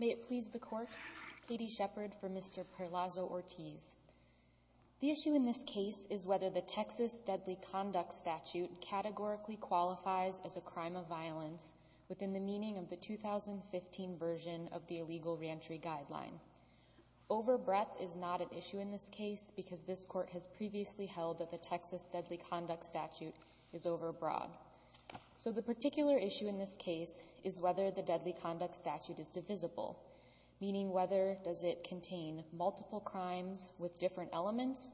May it please the Court, Katie Shepard for Mr. Perlaza-Ortiz. The issue in this case is whether the Texas Deadly Conduct Statute categorically qualifies as a crime of violence within the meaning of the 2015 version of the Illegal Reentry Guideline. Overbreath is not an issue in this case because this Court has previously held that the Texas Deadly Conduct Statute is overbroad. So the particular issue in this case is whether the Deadly Conduct Statute is divisible, meaning whether does it contain multiple crimes with different elements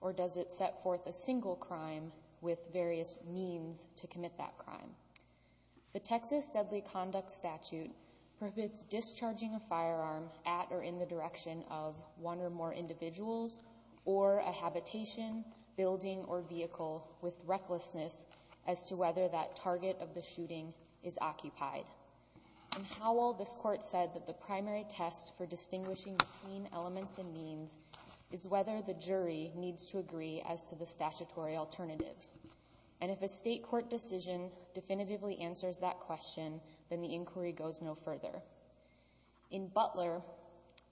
or does it set forth a single crime with various means to commit that crime. The Texas Deadly Conduct Statute permits discharging a firearm at or in the direction of one or more individuals or a habitation, building, or vehicle with recklessness as to whether that target of the shooting is occupied. In Howell, this Court said that the primary test for distinguishing between elements and means is whether the jury needs to agree as to the statutory alternatives. And if a state court decision definitively answers that question, then the inquiry goes no further. In Butler,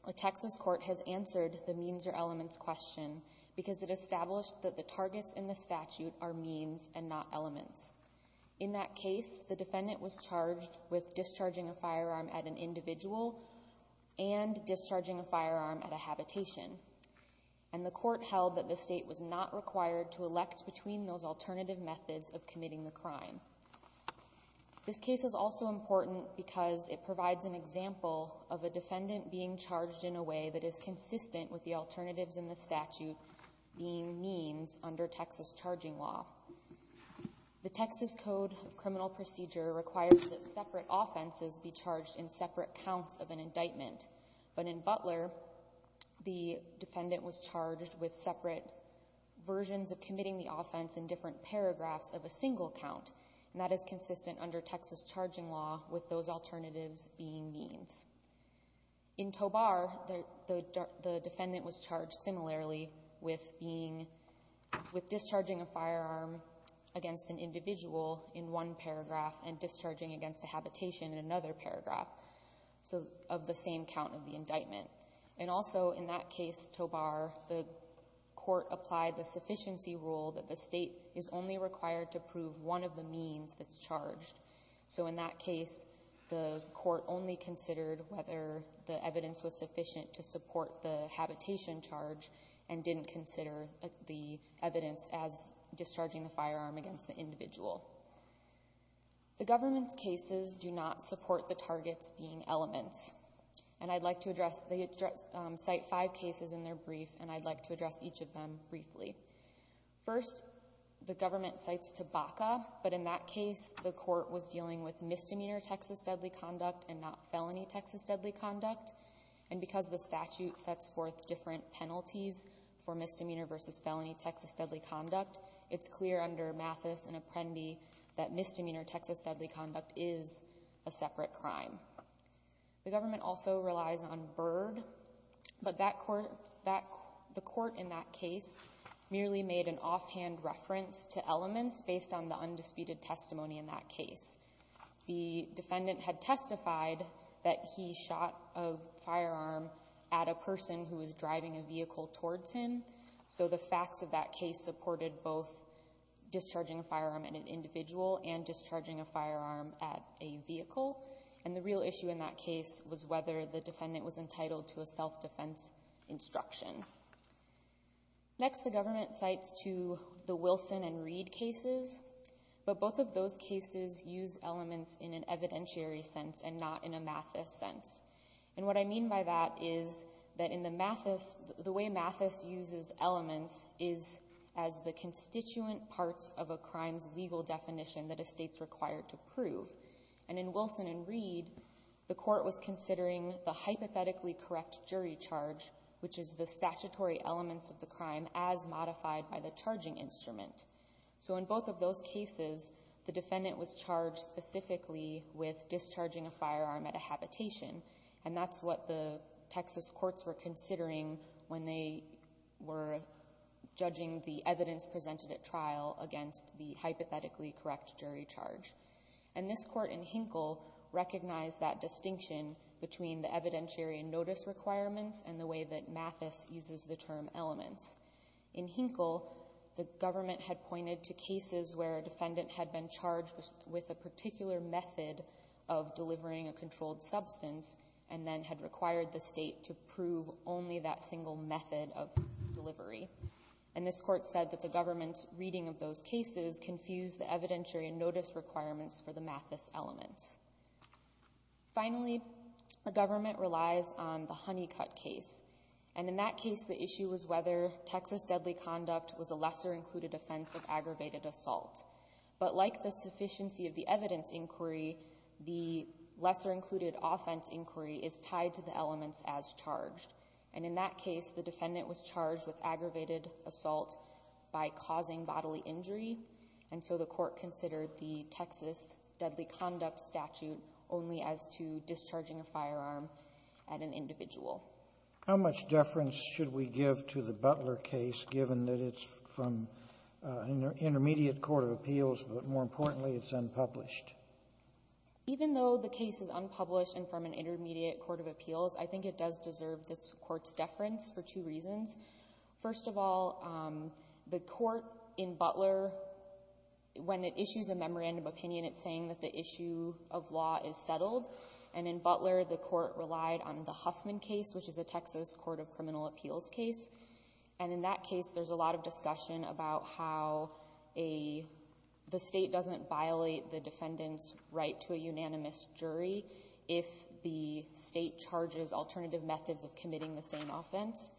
a Texas court has answered the means or elements question because it established that the targets in the statute are means and not elements. In that case, the defendant was charged with discharging a firearm at an individual and discharging a firearm at a habitation, and the court held that the state was not required to elect between those alternative methods of committing the crime. This case is also important because it provides an example of a defendant being charged in a way that is consistent with the alternatives in the statute being means under Texas charging law. The Texas Code of Criminal Procedure requires that separate offenses be charged in separate counts of an indictment, but in Butler, the defendant was charged with separate versions of committing the offense in different paragraphs of a single count, and that is consistent under Texas charging law with those alternatives being means. In Tobar, the defendant was charged similarly with being, with discharging a firearm against an individual in one paragraph and discharging against a habitation in another paragraph, so of the same count of the indictment. And also in that case, Tobar, the court applied the sufficiency rule that the state is only required to prove one of the means that's charged. So in that case, the court only considered whether the evidence was sufficient to support the habitation charge and didn't consider the evidence as discharging the firearm against the individual. The government's cases do not support the targets being elements, and I'd like to address the address, cite five cases in their brief, and I'd like to address each of them briefly. First, the government cites Tabaka, but in that case, the court was dealing with misdemeanor Texas deadly conduct and not felony Texas deadly conduct, and because the statute sets forth different penalties for misdemeanor versus felony Texas deadly conduct, it's clear under Mathis and Apprendi that misdemeanor Texas deadly conduct is a separate crime. The government also relies on Byrd, but the court in that case merely made an offhand reference to elements based on the undisputed testimony in that case. The defendant had testified that he shot a firearm at a person who was driving a vehicle towards him, so the facts of that case supported both discharging a firearm at an individual and discharging a firearm at a vehicle, and the real issue in that case was whether the defendant was entitled to a self-defense instruction. Next, the government cites two, the Wilson and Reed cases, but both of those cases use elements in an evidentiary sense and not in a Mathis sense, and what I mean by that is that in the Mathis, the way Mathis uses elements is as the constituent parts of a crime's legal definition that a state's required to prove, and in Wilson and Reed, the court was considering the hypothetically correct jury charge, which is the statutory elements of the crime as modified by the charging instrument. So in both of those cases, the defendant was charged specifically with discharging a firearm at a habitation, and that's what the Texas courts were considering when they were judging the evidence presented at trial against the hypothetically correct jury charge. And this court in Hinkle recognized that distinction between the evidentiary notice requirements and the way that Mathis uses the term elements. In Hinkle, the government had pointed to cases where a defendant had been charged with a particular method of delivering a controlled substance and then had required the state to prove only that single method of delivery, and this court said that the government's reading of those cases confused the evidentiary notice requirements for the Mathis elements. Finally, the government relies on the Honeycutt case, and in that case, the issue was whether Texas deadly conduct was a lesser-included offense of aggravated assault, but like the sufficiency of the evidence inquiry, the lesser-included offense inquiry is tied to the elements as charged, and in that case, the defendant was charged with aggravated assault by causing bodily injury, and so the court considered the Texas deadly conduct statute only as to discharging a firearm at an individual. How much deference should we give to the Butler case, given that it's from an intermediate court of appeals, but more importantly, it's unpublished? Even though the case is unpublished and from an intermediate court of appeals, I think it does deserve this court's deference for two reasons. First of all, the court in Butler, when it issues a memorandum of opinion, it's saying that the issue of law is settled, and in Butler, the court relied on the Huffman case, which is a Texas court of criminal appeals case, and in that case, there's a lot of discussion about how a — the State doesn't violate the defendant's right to a unanimous jury if the State charges alternative methods of committing the same offense,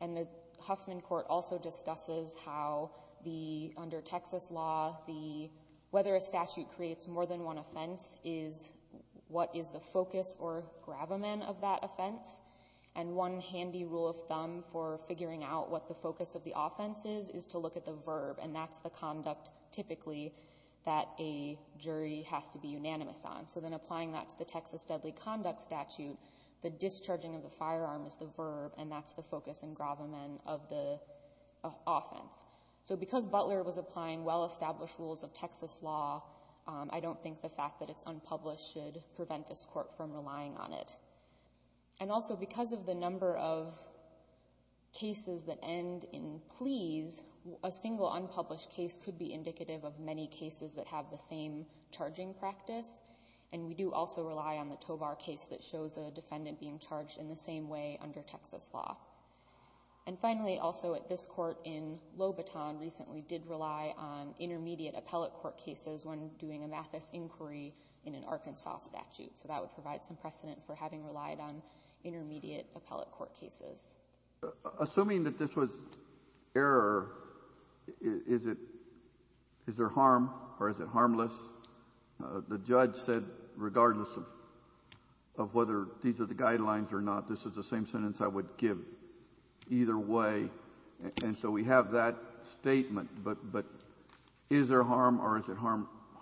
and the Huffman court also discusses how the — under Texas law, the — whether a statute creates more than one offense is — what is the focus or gravamen of that offense, and one handy rule of thumb for figuring out what the focus of the offense is, is to look at the verb, and that's the conduct, typically, that a jury has to be unanimous on. So then applying that to the Texas deadly conduct statute, the discharging of the firearm is the verb, and that's the focus and gravamen of the offense. So because Butler was applying well-established rules of Texas law, I don't think the fact that it's unpublished should prevent this court from relying on it. And also, because of the number of cases that end in please, a single unpublished case could be indicative of many cases that have the same charging practice, and we do also rely on the Tovar case that shows a defendant being charged in the same way under Texas law. And finally, also at this court in Lobaton, recently did rely on intermediate appellate court cases when doing a Mathis inquiry in an Arkansas statute, so that would provide some precedent for having relied on intermediate appellate court cases. Assuming that this was error, is it, is there harm or is it harmless? The judge said regardless of whether these are the guidelines or not, this is the same sentence I would give either way, and so we have that statement, but is there harm or is it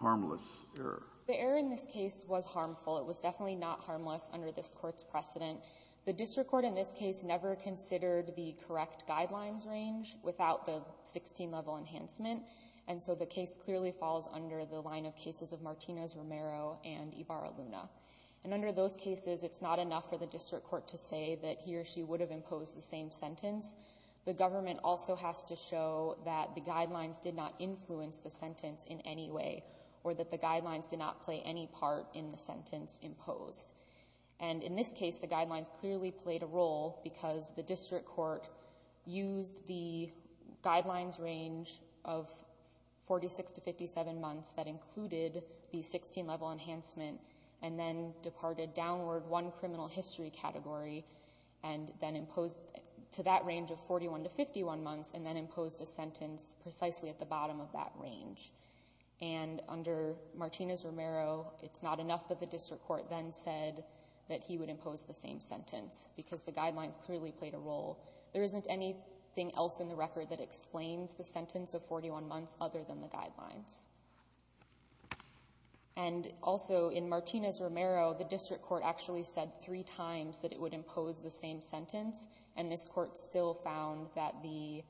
harmless error? The error in this case was harmful. It was definitely not harmless under this court's precedent. The district court in this case never considered the correct guidelines range without the 16-level enhancement, and so the case clearly falls under the line of cases of Martinez-Romero and Ibarra-Luna. And under those cases, it's not enough for the district court to say that he or she would have imposed the same sentence. The government also has to show that the guidelines did not influence the sentence in any way, or that the guidelines did not play any part in the sentence imposed. And in this case, the guidelines clearly played a role because the district court used the guidelines range of 46 to 57 months that included the 16-level enhancement and then departed downward one criminal history category and then imposed to that range of 41 to 51 months and then imposed a sentence precisely at the bottom of that range. And under Martinez-Romero, it's not enough that the district court then said that he would impose the same sentence because the guidelines clearly played a role. There isn't anything else in the record that explains the sentence of 41 months other than the guidelines. And also in Martinez-Romero, the district court actually said three times that it would impose the same sentence, and this court still found that the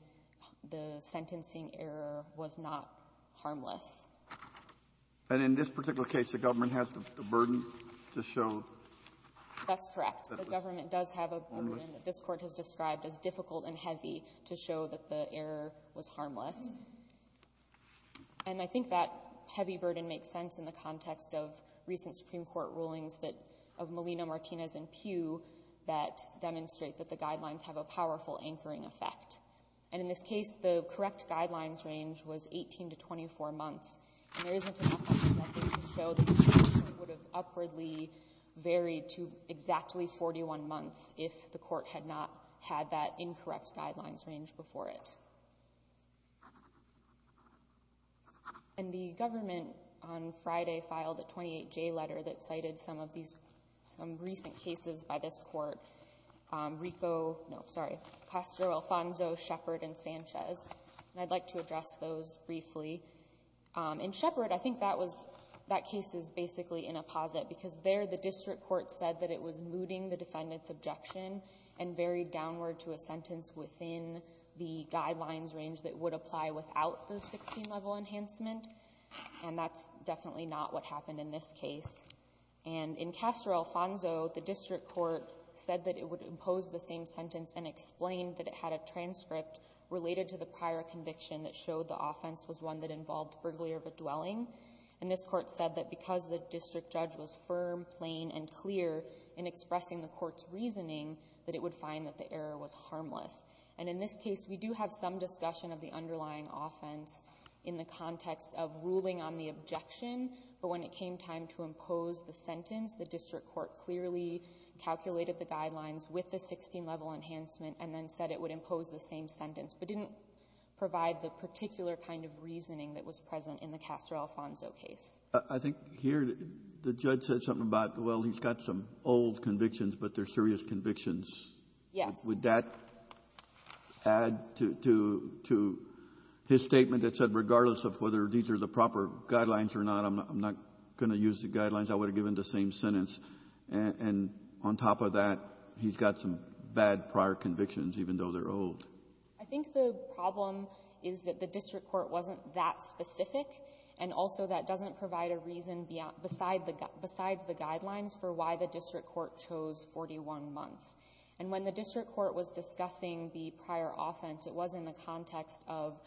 sentencing error was not harmful. It was harmless. And in this particular case, the government has the burden to show that it was harmless? That's correct. The government does have a burden that this Court has described as difficult and heavy to show that the error was harmless. And I think that heavy burden makes sense in the context of recent Supreme Court rulings that — of Molina, Martinez, and Pugh that demonstrate that the guidelines have a powerful anchoring effect. And in this case, the correct guidelines range was 18 to 24 months, and there isn't enough evidence to show that the enforcement would have upwardly varied to exactly 41 months if the Court had not had that incorrect guidelines range before it. And the government on Friday filed a 28J letter that cited some of these — some recent cases by this Court, Rico — no, sorry, Castro, Alfonso, Shepard, and Sanchez, and I'd like to address those briefly. In Shepard, I think that was — that case is basically in a posit because there the district court said that it was mooting the defendant's objection and varied downward to a sentence within the guidelines range that would apply without the 16-level enhancement, and that's definitely not what happened in this case. And in Castro-Alfonso, the district court said that it would impose the same sentence and explained that it had a transcript related to the prior conviction that showed the offense was one that involved burglary of a dwelling. And this Court said that because the district judge was firm, plain, and clear in expressing the Court's reasoning, that it would find that the error was harmless. And in this case, we do have some discussion of the underlying offense in the context of ruling on the objection, but when it came time to impose the sentence, the district court clearly calculated the guidelines with the 16-level enhancement and then said it would impose the same sentence, but didn't provide the particular kind of reasoning that was present in the Castro-Alfonso case. I think here, the judge said something about, well, he's got some old convictions, but they're serious convictions. Yes. Would that add to his statement that said, regardless of whether these are the proper guidelines or not, I'm not going to use the guidelines, I would have given the same sentence, and on top of that, he's got some bad prior convictions, even though they're old? I think the problem is that the district court wasn't that specific, and also that doesn't provide a reason besides the guidelines for why the district court chose 41 months. And when the district court was discussing the prior offense, it was in the context of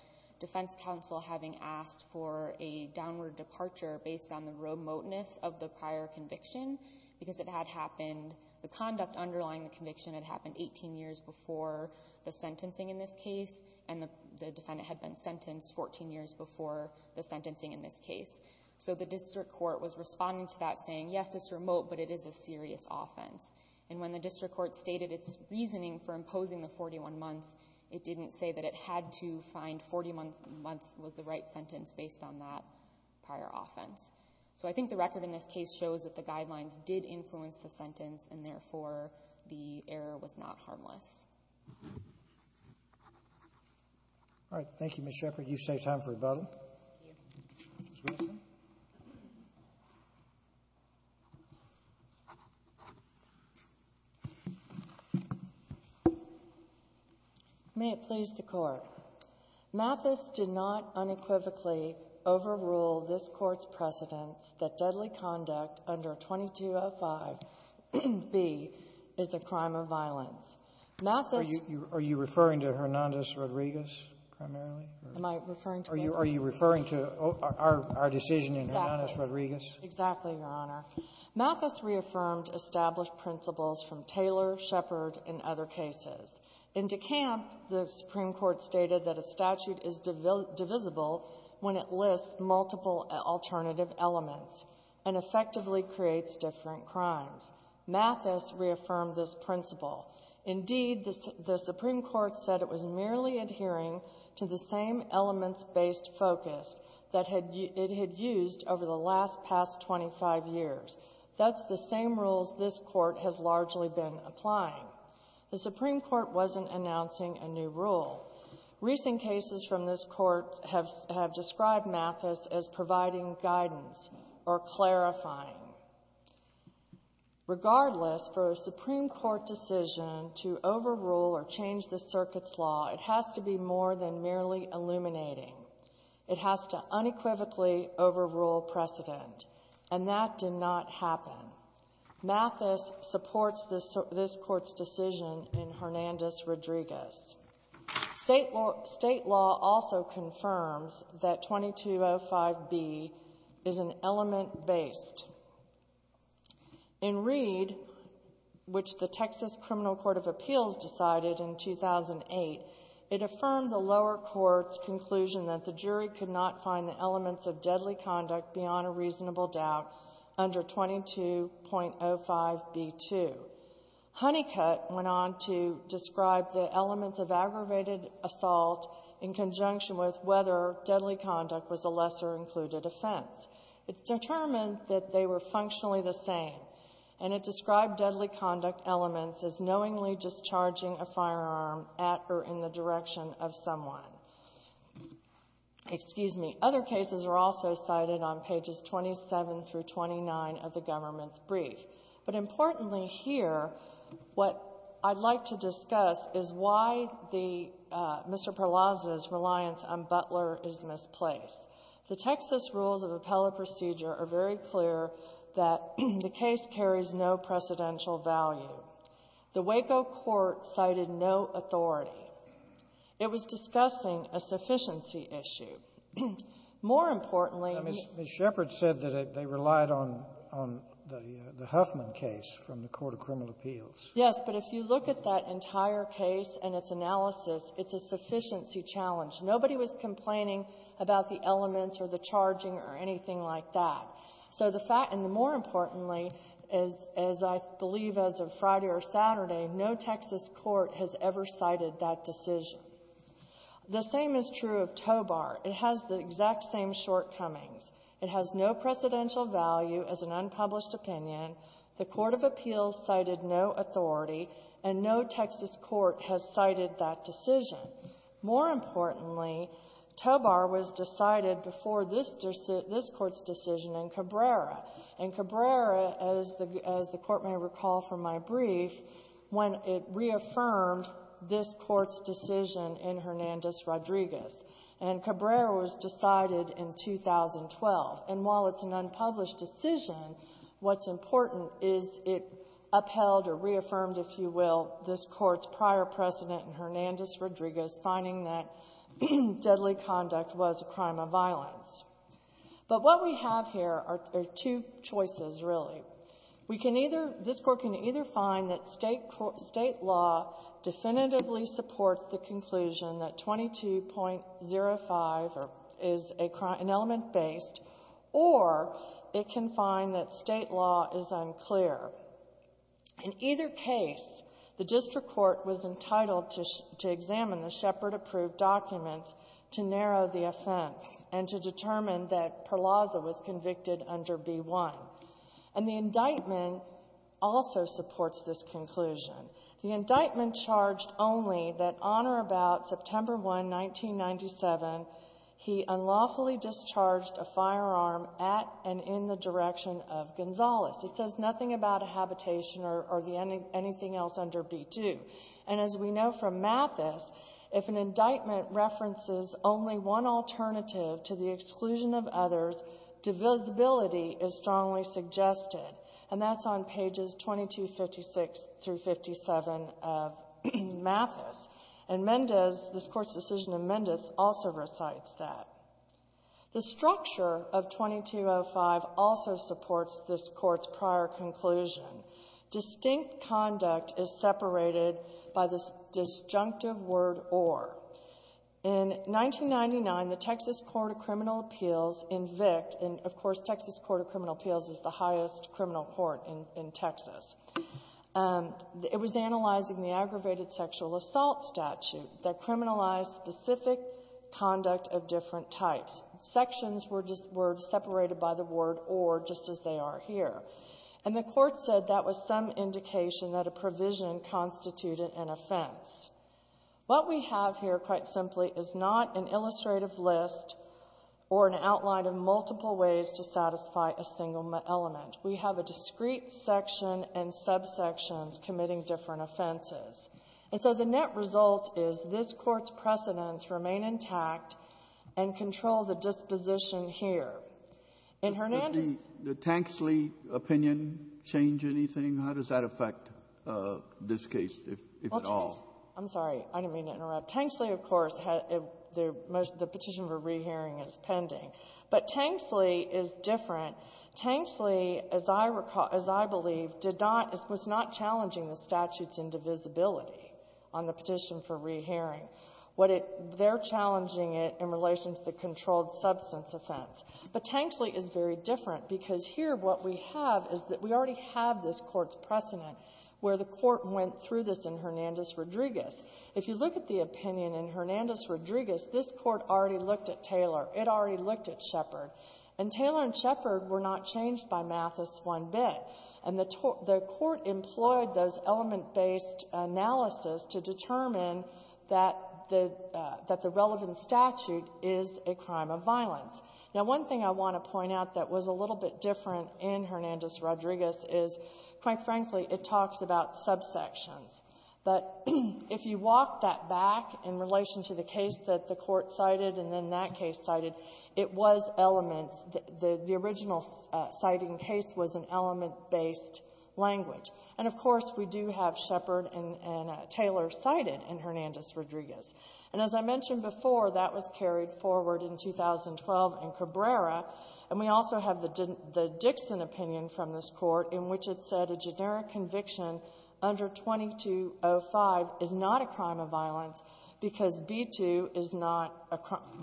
defense counsel having asked for a downward departure based on the remoteness of the prior conviction, because it had happened, the conduct underlying the conviction had happened 18 years before the sentencing in this case, and the defendant had been sentenced 14 years before the sentencing in this case. So the district court was responding to that, saying, yes, it's remote, but it is a serious offense. And when the district court stated its reasoning for imposing the 41 months, it didn't say that it had to find 41 months was the right sentence based on that prior offense. So I think the record in this case shows that the guidelines did influence the sentence, and therefore, the error was not harmless. All right. Thank you, Ms. Shepard. Thank you. Ms. Wilson? May it please the Court. Mathis did not unequivocally overrule this Court's precedence that deadly conduct under 2205B is a crime of violence. Mathis — Are you referring to Hernandez-Rodriguez primarily? Am I referring to — Are you referring to our decision in Hernandez-Rodriguez? Exactly, Your Honor. Mathis reaffirmed established principles from Taylor, Shepard, and other cases. In DeCamp, the Supreme Court stated that a statute is divisible when it lists multiple alternative elements and effectively creates different crimes. Mathis reaffirmed this principle. Indeed, the Supreme Court said it was merely adhering to the same elements-based focus that it had used over the last past 25 years. That's the same rules this Court has largely been applying. The Supreme Court wasn't announcing a new rule. Recent cases from this Court have described Mathis as providing guidance or clarifying. Regardless, for a Supreme Court decision to overrule or change the circuit's law, it has to be more than merely illuminating. It has to unequivocally overrule precedent, and that did not happen. Mathis supports this Court's decision in Hernandez-Rodriguez. State law also confirms that 2205B is an element-based. In Reed, which the Texas Criminal Court of Appeals decided in 2008, it affirmed the lower court's conclusion that the jury could not find the elements of deadly conduct beyond a reasonable doubt under 2205B2. Honeycutt went on to describe the elements of aggravated assault in conjunction with whether deadly conduct was a lesser-included offense. It determined that they were functionally the same, and it described deadly conduct elements as knowingly discharging a firearm at or in the direction of someone. Excuse me. Other cases are also cited on pages 27 through 29 of the government's brief. But importantly here, what I'd like to discuss is why the Mr. Perlazza's reliance on Butler is misplaced. The Texas rules of appellate procedure are very clear that the case carries no precedential value. The Waco court cited no authority. It was discussing a sufficiency issue. More importantly, we need to be clear. Yes, but if you look at that entire case and its analysis, it's a sufficiency challenge. Nobody was complaining about the elements or the charging or anything like that. So the fact and, more importantly, as I believe as of Friday or Saturday, no Texas court has ever cited that decision. The same is true of Tobar. It has the exact same shortcomings. It has no precedential value as an unpublished opinion. The court of appeals cited no authority, and no Texas court has cited that decision. More importantly, Tobar was decided before this court's decision in Cabrera. And Cabrera, as the Court may recall from my brief, when it reaffirmed this court's decision in Hernandez-Rodriguez. And Cabrera was decided in 2012. And while it's an unpublished decision, what's important is it upheld or reaffirmed, if you will, this Court's prior precedent in Hernandez-Rodriguez, finding that deadly conduct was a crime of violence. But what we have here are two choices, really. We can either — this Court can either find that State law definitively supports the conclusion that 22.05 is an element-based, or it can find that State law is unclear. In either case, the district court was entitled to examine the Shepard-approved documents to narrow the offense and to determine that Perlaza was convicted under B-1. And the indictment also supports this conclusion. The indictment charged only that on or about September 1, 1997, he unlawfully discharged a firearm at and in the direction of Gonzales. It says nothing about a habitation or the — anything else under B-2. And as we know from Mathis, if an indictment references only one alternative to the exclusion of others, divisibility is strongly suggested. And that's on pages 2256 through 57 of Mathis. And Mendez, this Court's decision in Mendez, also recites that. The structure of 22.05 also supports this Court's prior conclusion. Distinct conduct is separated by the disjunctive word or. In 1999, the Texas Court of Criminal Appeals invoked — and, of course, Texas Court of Criminal Appeals is the highest criminal court in Texas. It was analyzing the aggravated sexual assault statute that criminalized specific conduct of different types. Sections were just — were separated by the word or, just as they are here. And the Court said that was some indication that a provision constituted an offense. What we have here, quite simply, is not an illustrative list or an outline of multiple ways to satisfy a single element. We have a discrete section and subsections committing different offenses. And so the net result is this Court's precedents remain intact and control the disposition here. In Hernandez — Kennedy, did the Tanksley opinion change anything? How does that affect this case, if at all? I'm sorry. I didn't mean to interrupt. Tanksley, of course, had — the petition for rehearing is pending. But Tanksley is different. Tanksley, as I recall — as I believe, did not — was not challenging the statute's indivisibility on the petition for rehearing. What it — they're challenging it in relation to the controlled substance offense. But Tanksley is very different, because here what we have is that we already have this Court's precedent where the Court went through this in Hernandez-Rodriguez. If you look at the opinion in Hernandez-Rodriguez, this Court already looked at Taylor. It already looked at Shepard. And Taylor and Shepard were not changed by Mathis one bit. And the — the Court employed those element-based analysis to determine that the — that the relevant statute is a crime of violence. Now, one thing I want to point out that was a little bit different in Hernandez-Rodriguez is, quite frankly, it talks about subsections. But if you walk that back in relation to the case that the Court cited and then that case cited, it was elements — the original citing case was an element-based language. And, of course, we do have Shepard and Taylor cited in Hernandez-Rodriguez. And as I mentioned before, that was carried forward in 2012 in Cabrera. And we also have the — the Dixon opinion from this Court, in which it said a generic conviction under 2205 is not a crime of violence because B-2 is not a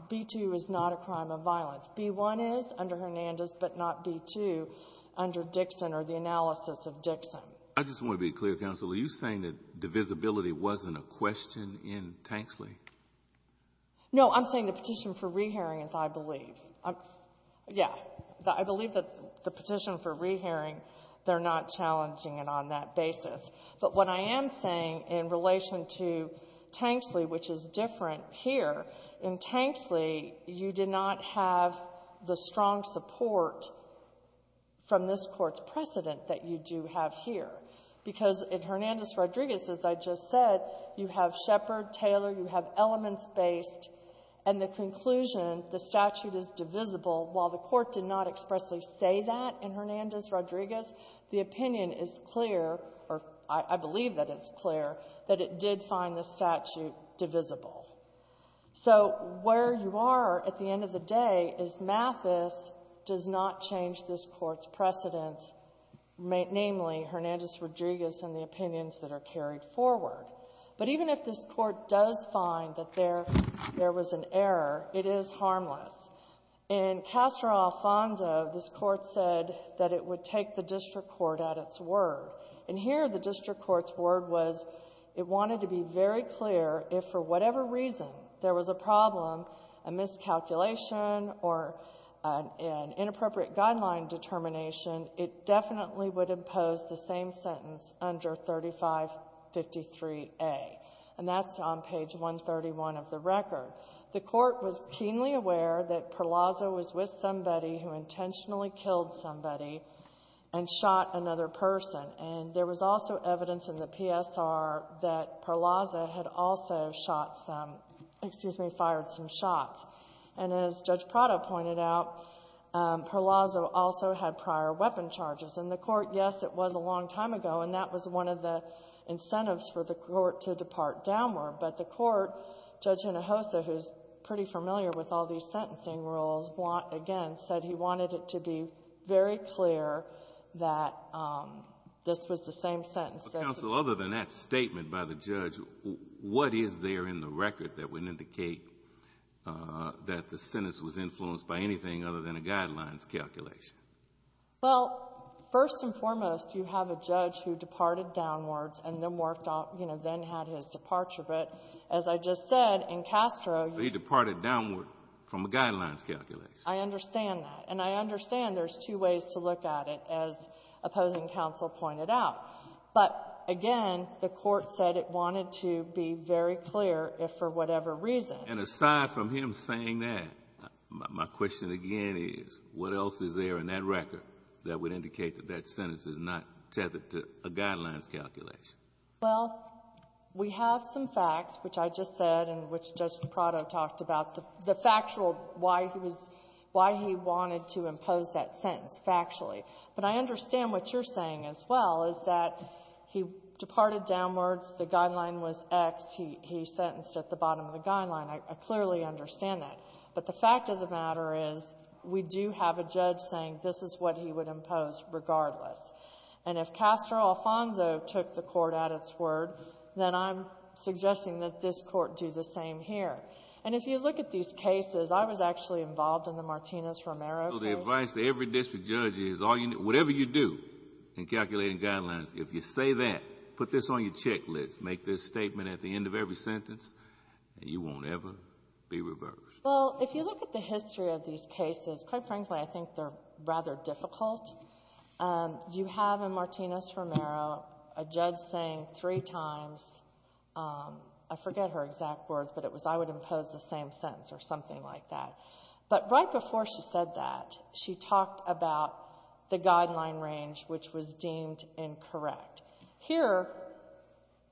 — B-2 is not a crime of violence. B-1 is under Hernandez, but not B-2 under Dixon or the analysis of Dixon. I just want to be clear, counsel. Are you saying that divisibility wasn't a question in Tanksley? No. I'm saying the petition for rehearing is, I believe. I'm — yeah. I believe that the petition for rehearing, they're not challenging it on that basis. But what I am saying in relation to Tanksley, which is different here, in Tanksley, you did not have the strong support from this Court's precedent that you do have here. Because in Hernandez-Rodriguez, as I just said, you have Shepard, Taylor. You have elements-based. And the conclusion, the statute is divisible. While the Court did not expressly say that in Hernandez-Rodriguez, the opinion is clear, or I believe that it's clear, that it did find the statute divisible. So where you are at the end of the day is Mathis does not change this Court's precedents, namely, Hernandez-Rodriguez and the opinions that are carried forward. But even if this Court does find that there was an error, it is harmless. In Castro-Alfonso, this Court said that it would take the district court at its word. And here, the district court's word was it wanted to be very clear if, for whatever reason, there was a problem, a miscalculation, or an inappropriate guideline determination, it definitely would impose the same sentence under 3553A. And that's on page 131 of the record. The Court was keenly aware that Perlazza was with somebody who intentionally killed somebody and shot another person. And there was also evidence in the PSR that Perlazza had also shot some — excuse me, fired some shots. And as Judge Prado pointed out, Perlazza also had prior weapon charges. And the Court, yes, it was a long time ago, and that was one of the incentives for the Court to depart downward. But the Court, Judge Hinojosa, who's pretty familiar with all these sentencing rules, again, said he wanted it to be very clear that this was the same sentence that he was using. So other than that statement by the judge, what is there in the record that would indicate that the sentence was influenced by anything other than a guidelines calculation? Well, first and foremost, you have a judge who departed downwards and then worked off — you know, then had his departure. But as I just said, in Castro, you see — I understand that. And I understand there's two ways to look at it, as opposing counsel pointed out. But, again, the Court said it wanted to be very clear if for whatever reason. And aside from him saying that, my question again is, what else is there in that record that would indicate that that sentence is not tethered to a guidelines calculation? Well, we have some facts, which I just said and which Judge Prado talked about. The factual — why he was — why he wanted to impose that sentence factually. But I understand what you're saying as well, is that he departed downwards. The guideline was X. He sentenced at the bottom of the guideline. I clearly understand that. But the fact of the matter is, we do have a judge saying this is what he would impose regardless. And if Castro Alfonso took the Court at its word, then I'm suggesting that this Court do the same here. And if you look at these cases, I was actually involved in the Martinez-Romero case. So the advice to every district judge is, whatever you do in calculating guidelines, if you say that, put this on your checklist, make this statement at the end of every sentence, and you won't ever be reversed. Well, if you look at the history of these cases, quite frankly, I think they're rather difficult. You have in Martinez-Romero a judge saying three times — I forget her exact words, but it was, I would impose the same sentence or something like that. But right before she said that, she talked about the guideline range, which was deemed incorrect. Here,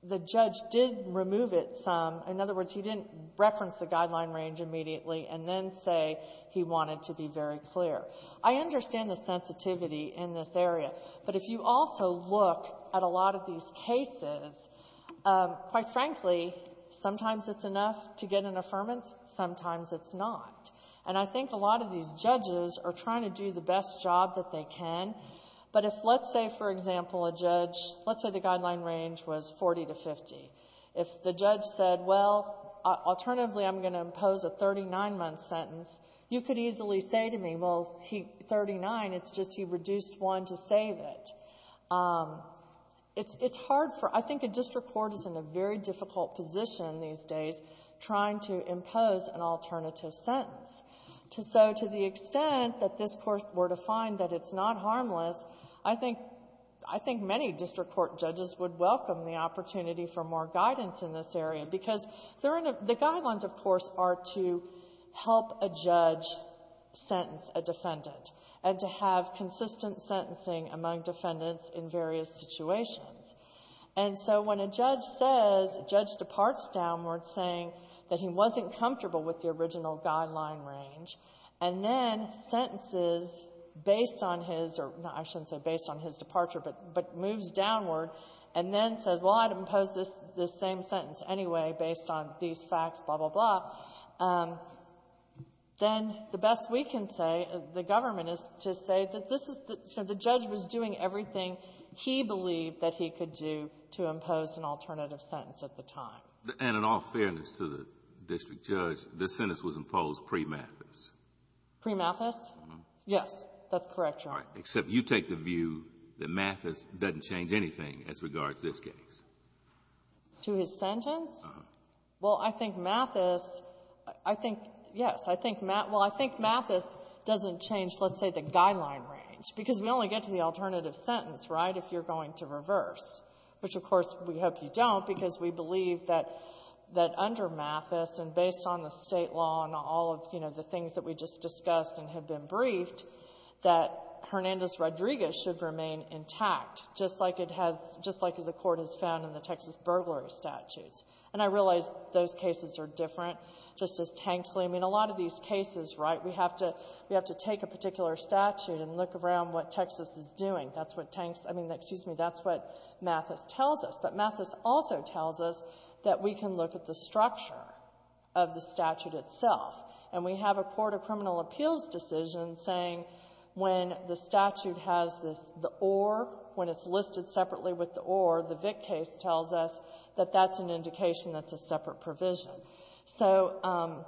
the judge did remove it some. In other words, he didn't reference the guideline range immediately and then say he wanted to be very clear. I understand the sensitivity in this area. But if you also look at a lot of these cases, quite frankly, sometimes it's enough to get an affirmance, sometimes it's not. And I think a lot of these judges are trying to do the best job that they can. But if, let's say, for example, a judge — let's say the guideline range was 40 to 50. If the judge said, well, alternatively, I'm going to impose a 39-month sentence, you could easily say to me, well, 39, it's just he reduced one to save it. It's hard for — I think a district court is in a very difficult position these days trying to impose an alternative sentence. So to the extent that this Court were to find that it's not harmless, I think — I think many district court judges would welcome the opportunity for more guidance in this area, because the guidelines, of course, are to help a judge sentence a defendant and to have consistent sentencing among defendants in various situations. And so when a judge says — a judge departs downward saying that he wasn't comfortable with the original guideline range, and then sentences based on his — or, no, I shouldn't say based on his departure, but moves downward, and then says, well, I'd impose this same sentence anyway based on these facts, blah, blah, blah, then the best we can say, the government, is to say that this is — you know, the judge was doing everything he believed that he could do to impose an alternative sentence at the time. And in all fairness to the district judge, this sentence was imposed pre-Mathis. Pre-Mathis? Yes. That's correct, Your Honor. All right. Except you take the view that Mathis doesn't change anything as regards this case. To his sentence? Uh-huh. Well, I think Mathis — I think — yes. I think — well, I think Mathis doesn't change, let's say, the guideline range. Because we only get to the alternative sentence, right, if you're going to reverse, which, of course, we hope you don't, because we believe that under Mathis and based on the State law and all of, you know, the things that we just discussed and have been briefed, that Hernandez-Rodriguez should remain intact, just like it has — just like the Court has found in the Texas burglary statutes. And I realize those cases are different, just as Tanksley. I mean, a lot of these cases, right, we have to — we have to take a particular statute and look around what Texas is doing. That's what Tanks — I mean, excuse me, that's what Mathis tells us. But Mathis also tells us that we can look at the structure of the statute itself. And we have a court of criminal appeals decision saying when the statute has this — the or, when it's listed separately with the or, the Vick case tells us that that's an indication that's a separate provision. So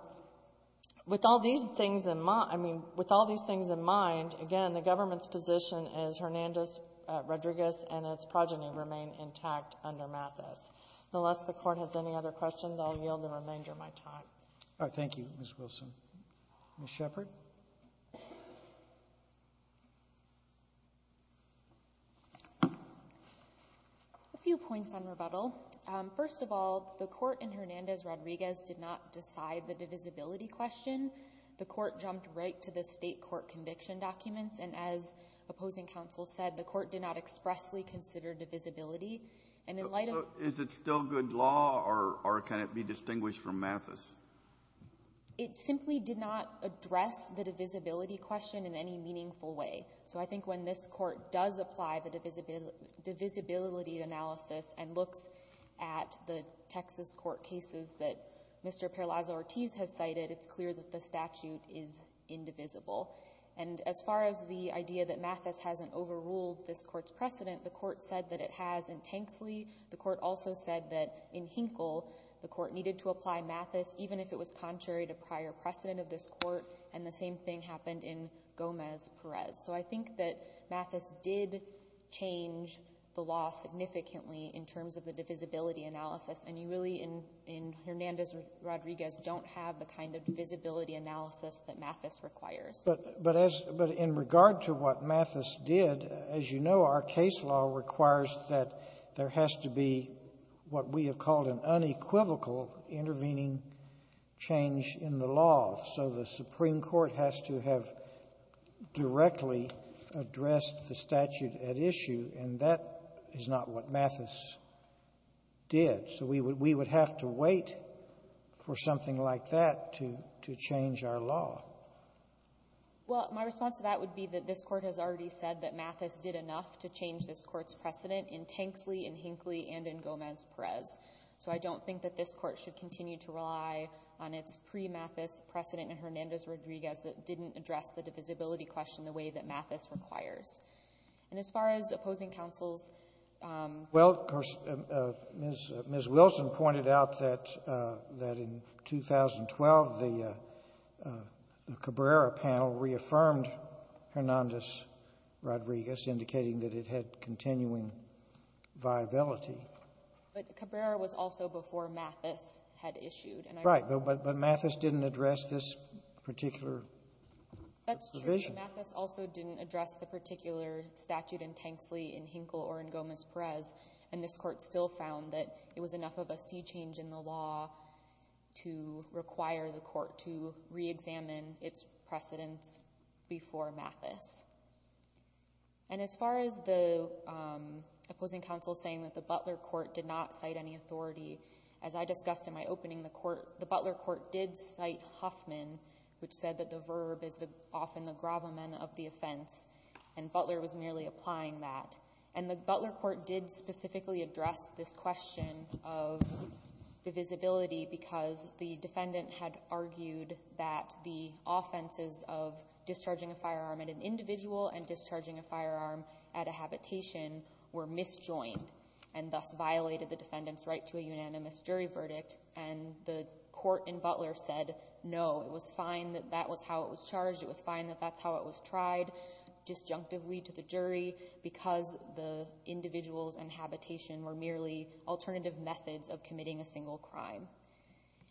with all these things in mind — I mean, with all these things in mind, again, the government's position is Hernandez-Rodriguez and its progeny remain intact under Mathis. Unless the Court has any other questions, I'll yield the remainder of my time. Roberts. All right. Thank you, Ms. Wilson. Ms. Shepard. A few points on rebuttal. First of all, the Court in Hernandez-Rodriguez did not decide the divisibility question. The Court jumped right to the State court conviction documents. And as opposing counsel said, the Court did not expressly consider divisibility. And in light of — So is it still good law, or can it be distinguished from Mathis? It simply did not address the divisibility question in any meaningful way. So I think when this Court does apply the divisibility analysis and looks at the Texas court cases that Mr. Peralaza-Ortiz has cited, it's clear that the statute is indivisible. And as far as the idea that Mathis hasn't overruled this Court's precedent, the Court said that it has in Tanksley. The Court also said that in Hinkle, the Court needed to apply Mathis even if it was contrary to prior precedent of this Court. And the same thing happened in Gomez-Perez. So I think that Mathis did change the law significantly in terms of the divisibility analysis. And you really, in Hernandez-Rodriguez, don't have the kind of divisibility analysis that Mathis requires. But as — but in regard to what Mathis did, as you know, our case law requires that there has to be what we have called an unequivocal intervening change in the law. So the Supreme Court has to have directly addressed the statute at issue. And that is not what Mathis did. So we would have to wait for something like that to change our law. Well, my response to that would be that this Court has already said that Mathis did enough to change this Court's precedent in Tanksley, in Hinkley, and in Gomez-Perez. So I don't think that this Court should continue to rely on its pre-Mathis precedent in Hernandez-Rodriguez that didn't address the divisibility question the way that Mathis requires. And as far as opposing counsels — Well, of course, Ms. Wilson pointed out that in 2012, the Cabrera panel reaffirmed Hernandez-Rodriguez, indicating that it had continuing viability. But Cabrera was also before Mathis had issued. And I don't know why — Right. But Mathis didn't address this particular provision. That's true. Mathis also didn't address the particular statute in Tanksley, in Hinkle, or in Gomez-Perez. And this Court still found that it was enough of a sea change in the law to require the Court to reexamine its precedents before Mathis. And as far as the opposing counsel saying that the Butler Court did not cite any authority, as I discussed in my opening, the Butler Court did cite Huffman, which said that the verb is often the gravamen of the offense, and Butler was merely applying that. And the Butler Court did specifically address this question of divisibility because the defendant had argued that the offenses of discharging a firearm at an individual and discharging a firearm at a habitation were misjoined and thus violated the defendant's right to a unanimous jury verdict. And the court in Butler said, no, it was fine that that was how it was charged. It was fine that that's how it was tried, disjunctively to the jury, because the individuals and habitation were merely alternative methods of committing a single crime.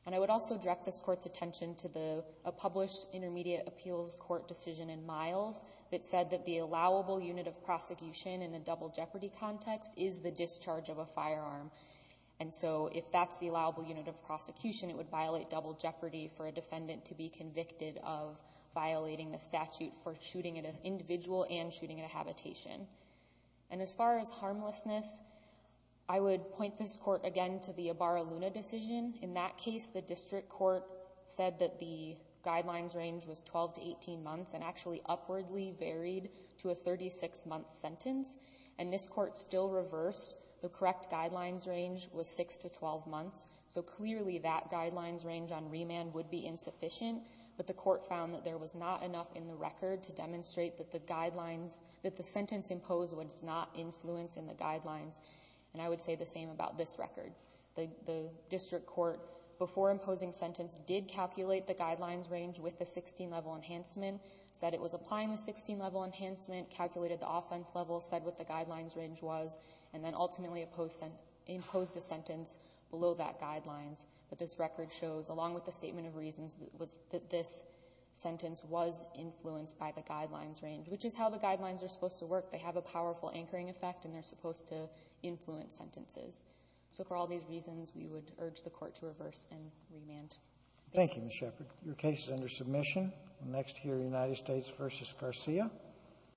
And I would also direct this Court's attention to the published Intermediate Appeals Court decision in Miles that said that the allowable unit of prosecution in a double jeopardy context is the discharge of a firearm. And so if that's the allowable unit of prosecution, it would violate double jeopardy for a defendant to be convicted of violating the statute for shooting at an individual and shooting at a habitation. And as far as harmlessness, I would point this Court again to the Ibarra-Luna decision. In that case, the district court said that the guidelines range was 12 to 18 months and actually upwardly varied to a 36-month sentence. And this Court still reversed. The correct guidelines range was 6 to 12 months. So clearly, that guidelines range on remand would be insufficient. But the Court found that there was not enough in the record to demonstrate that the guidelines, that the sentence imposed was not influenced in the guidelines. And I would say the same about this record. The district court, before imposing sentence, did calculate the guidelines range with the 16-level enhancement, said it was applying the 16-level enhancement, calculated the offense level, said what the guidelines range was, and then ultimately imposed a sentence below that guidelines. But this record shows, along with the statement of reasons, that this sentence was influenced by the guidelines range, which is how the guidelines are supposed to work. They have a powerful anchoring effect, and they're supposed to influence sentences. So for all these reasons, we would urge the Court to reverse and remand. Thank you. Thank you, Ms. Shepard. Your case is under submission. We'll next hear United States v. Garcia.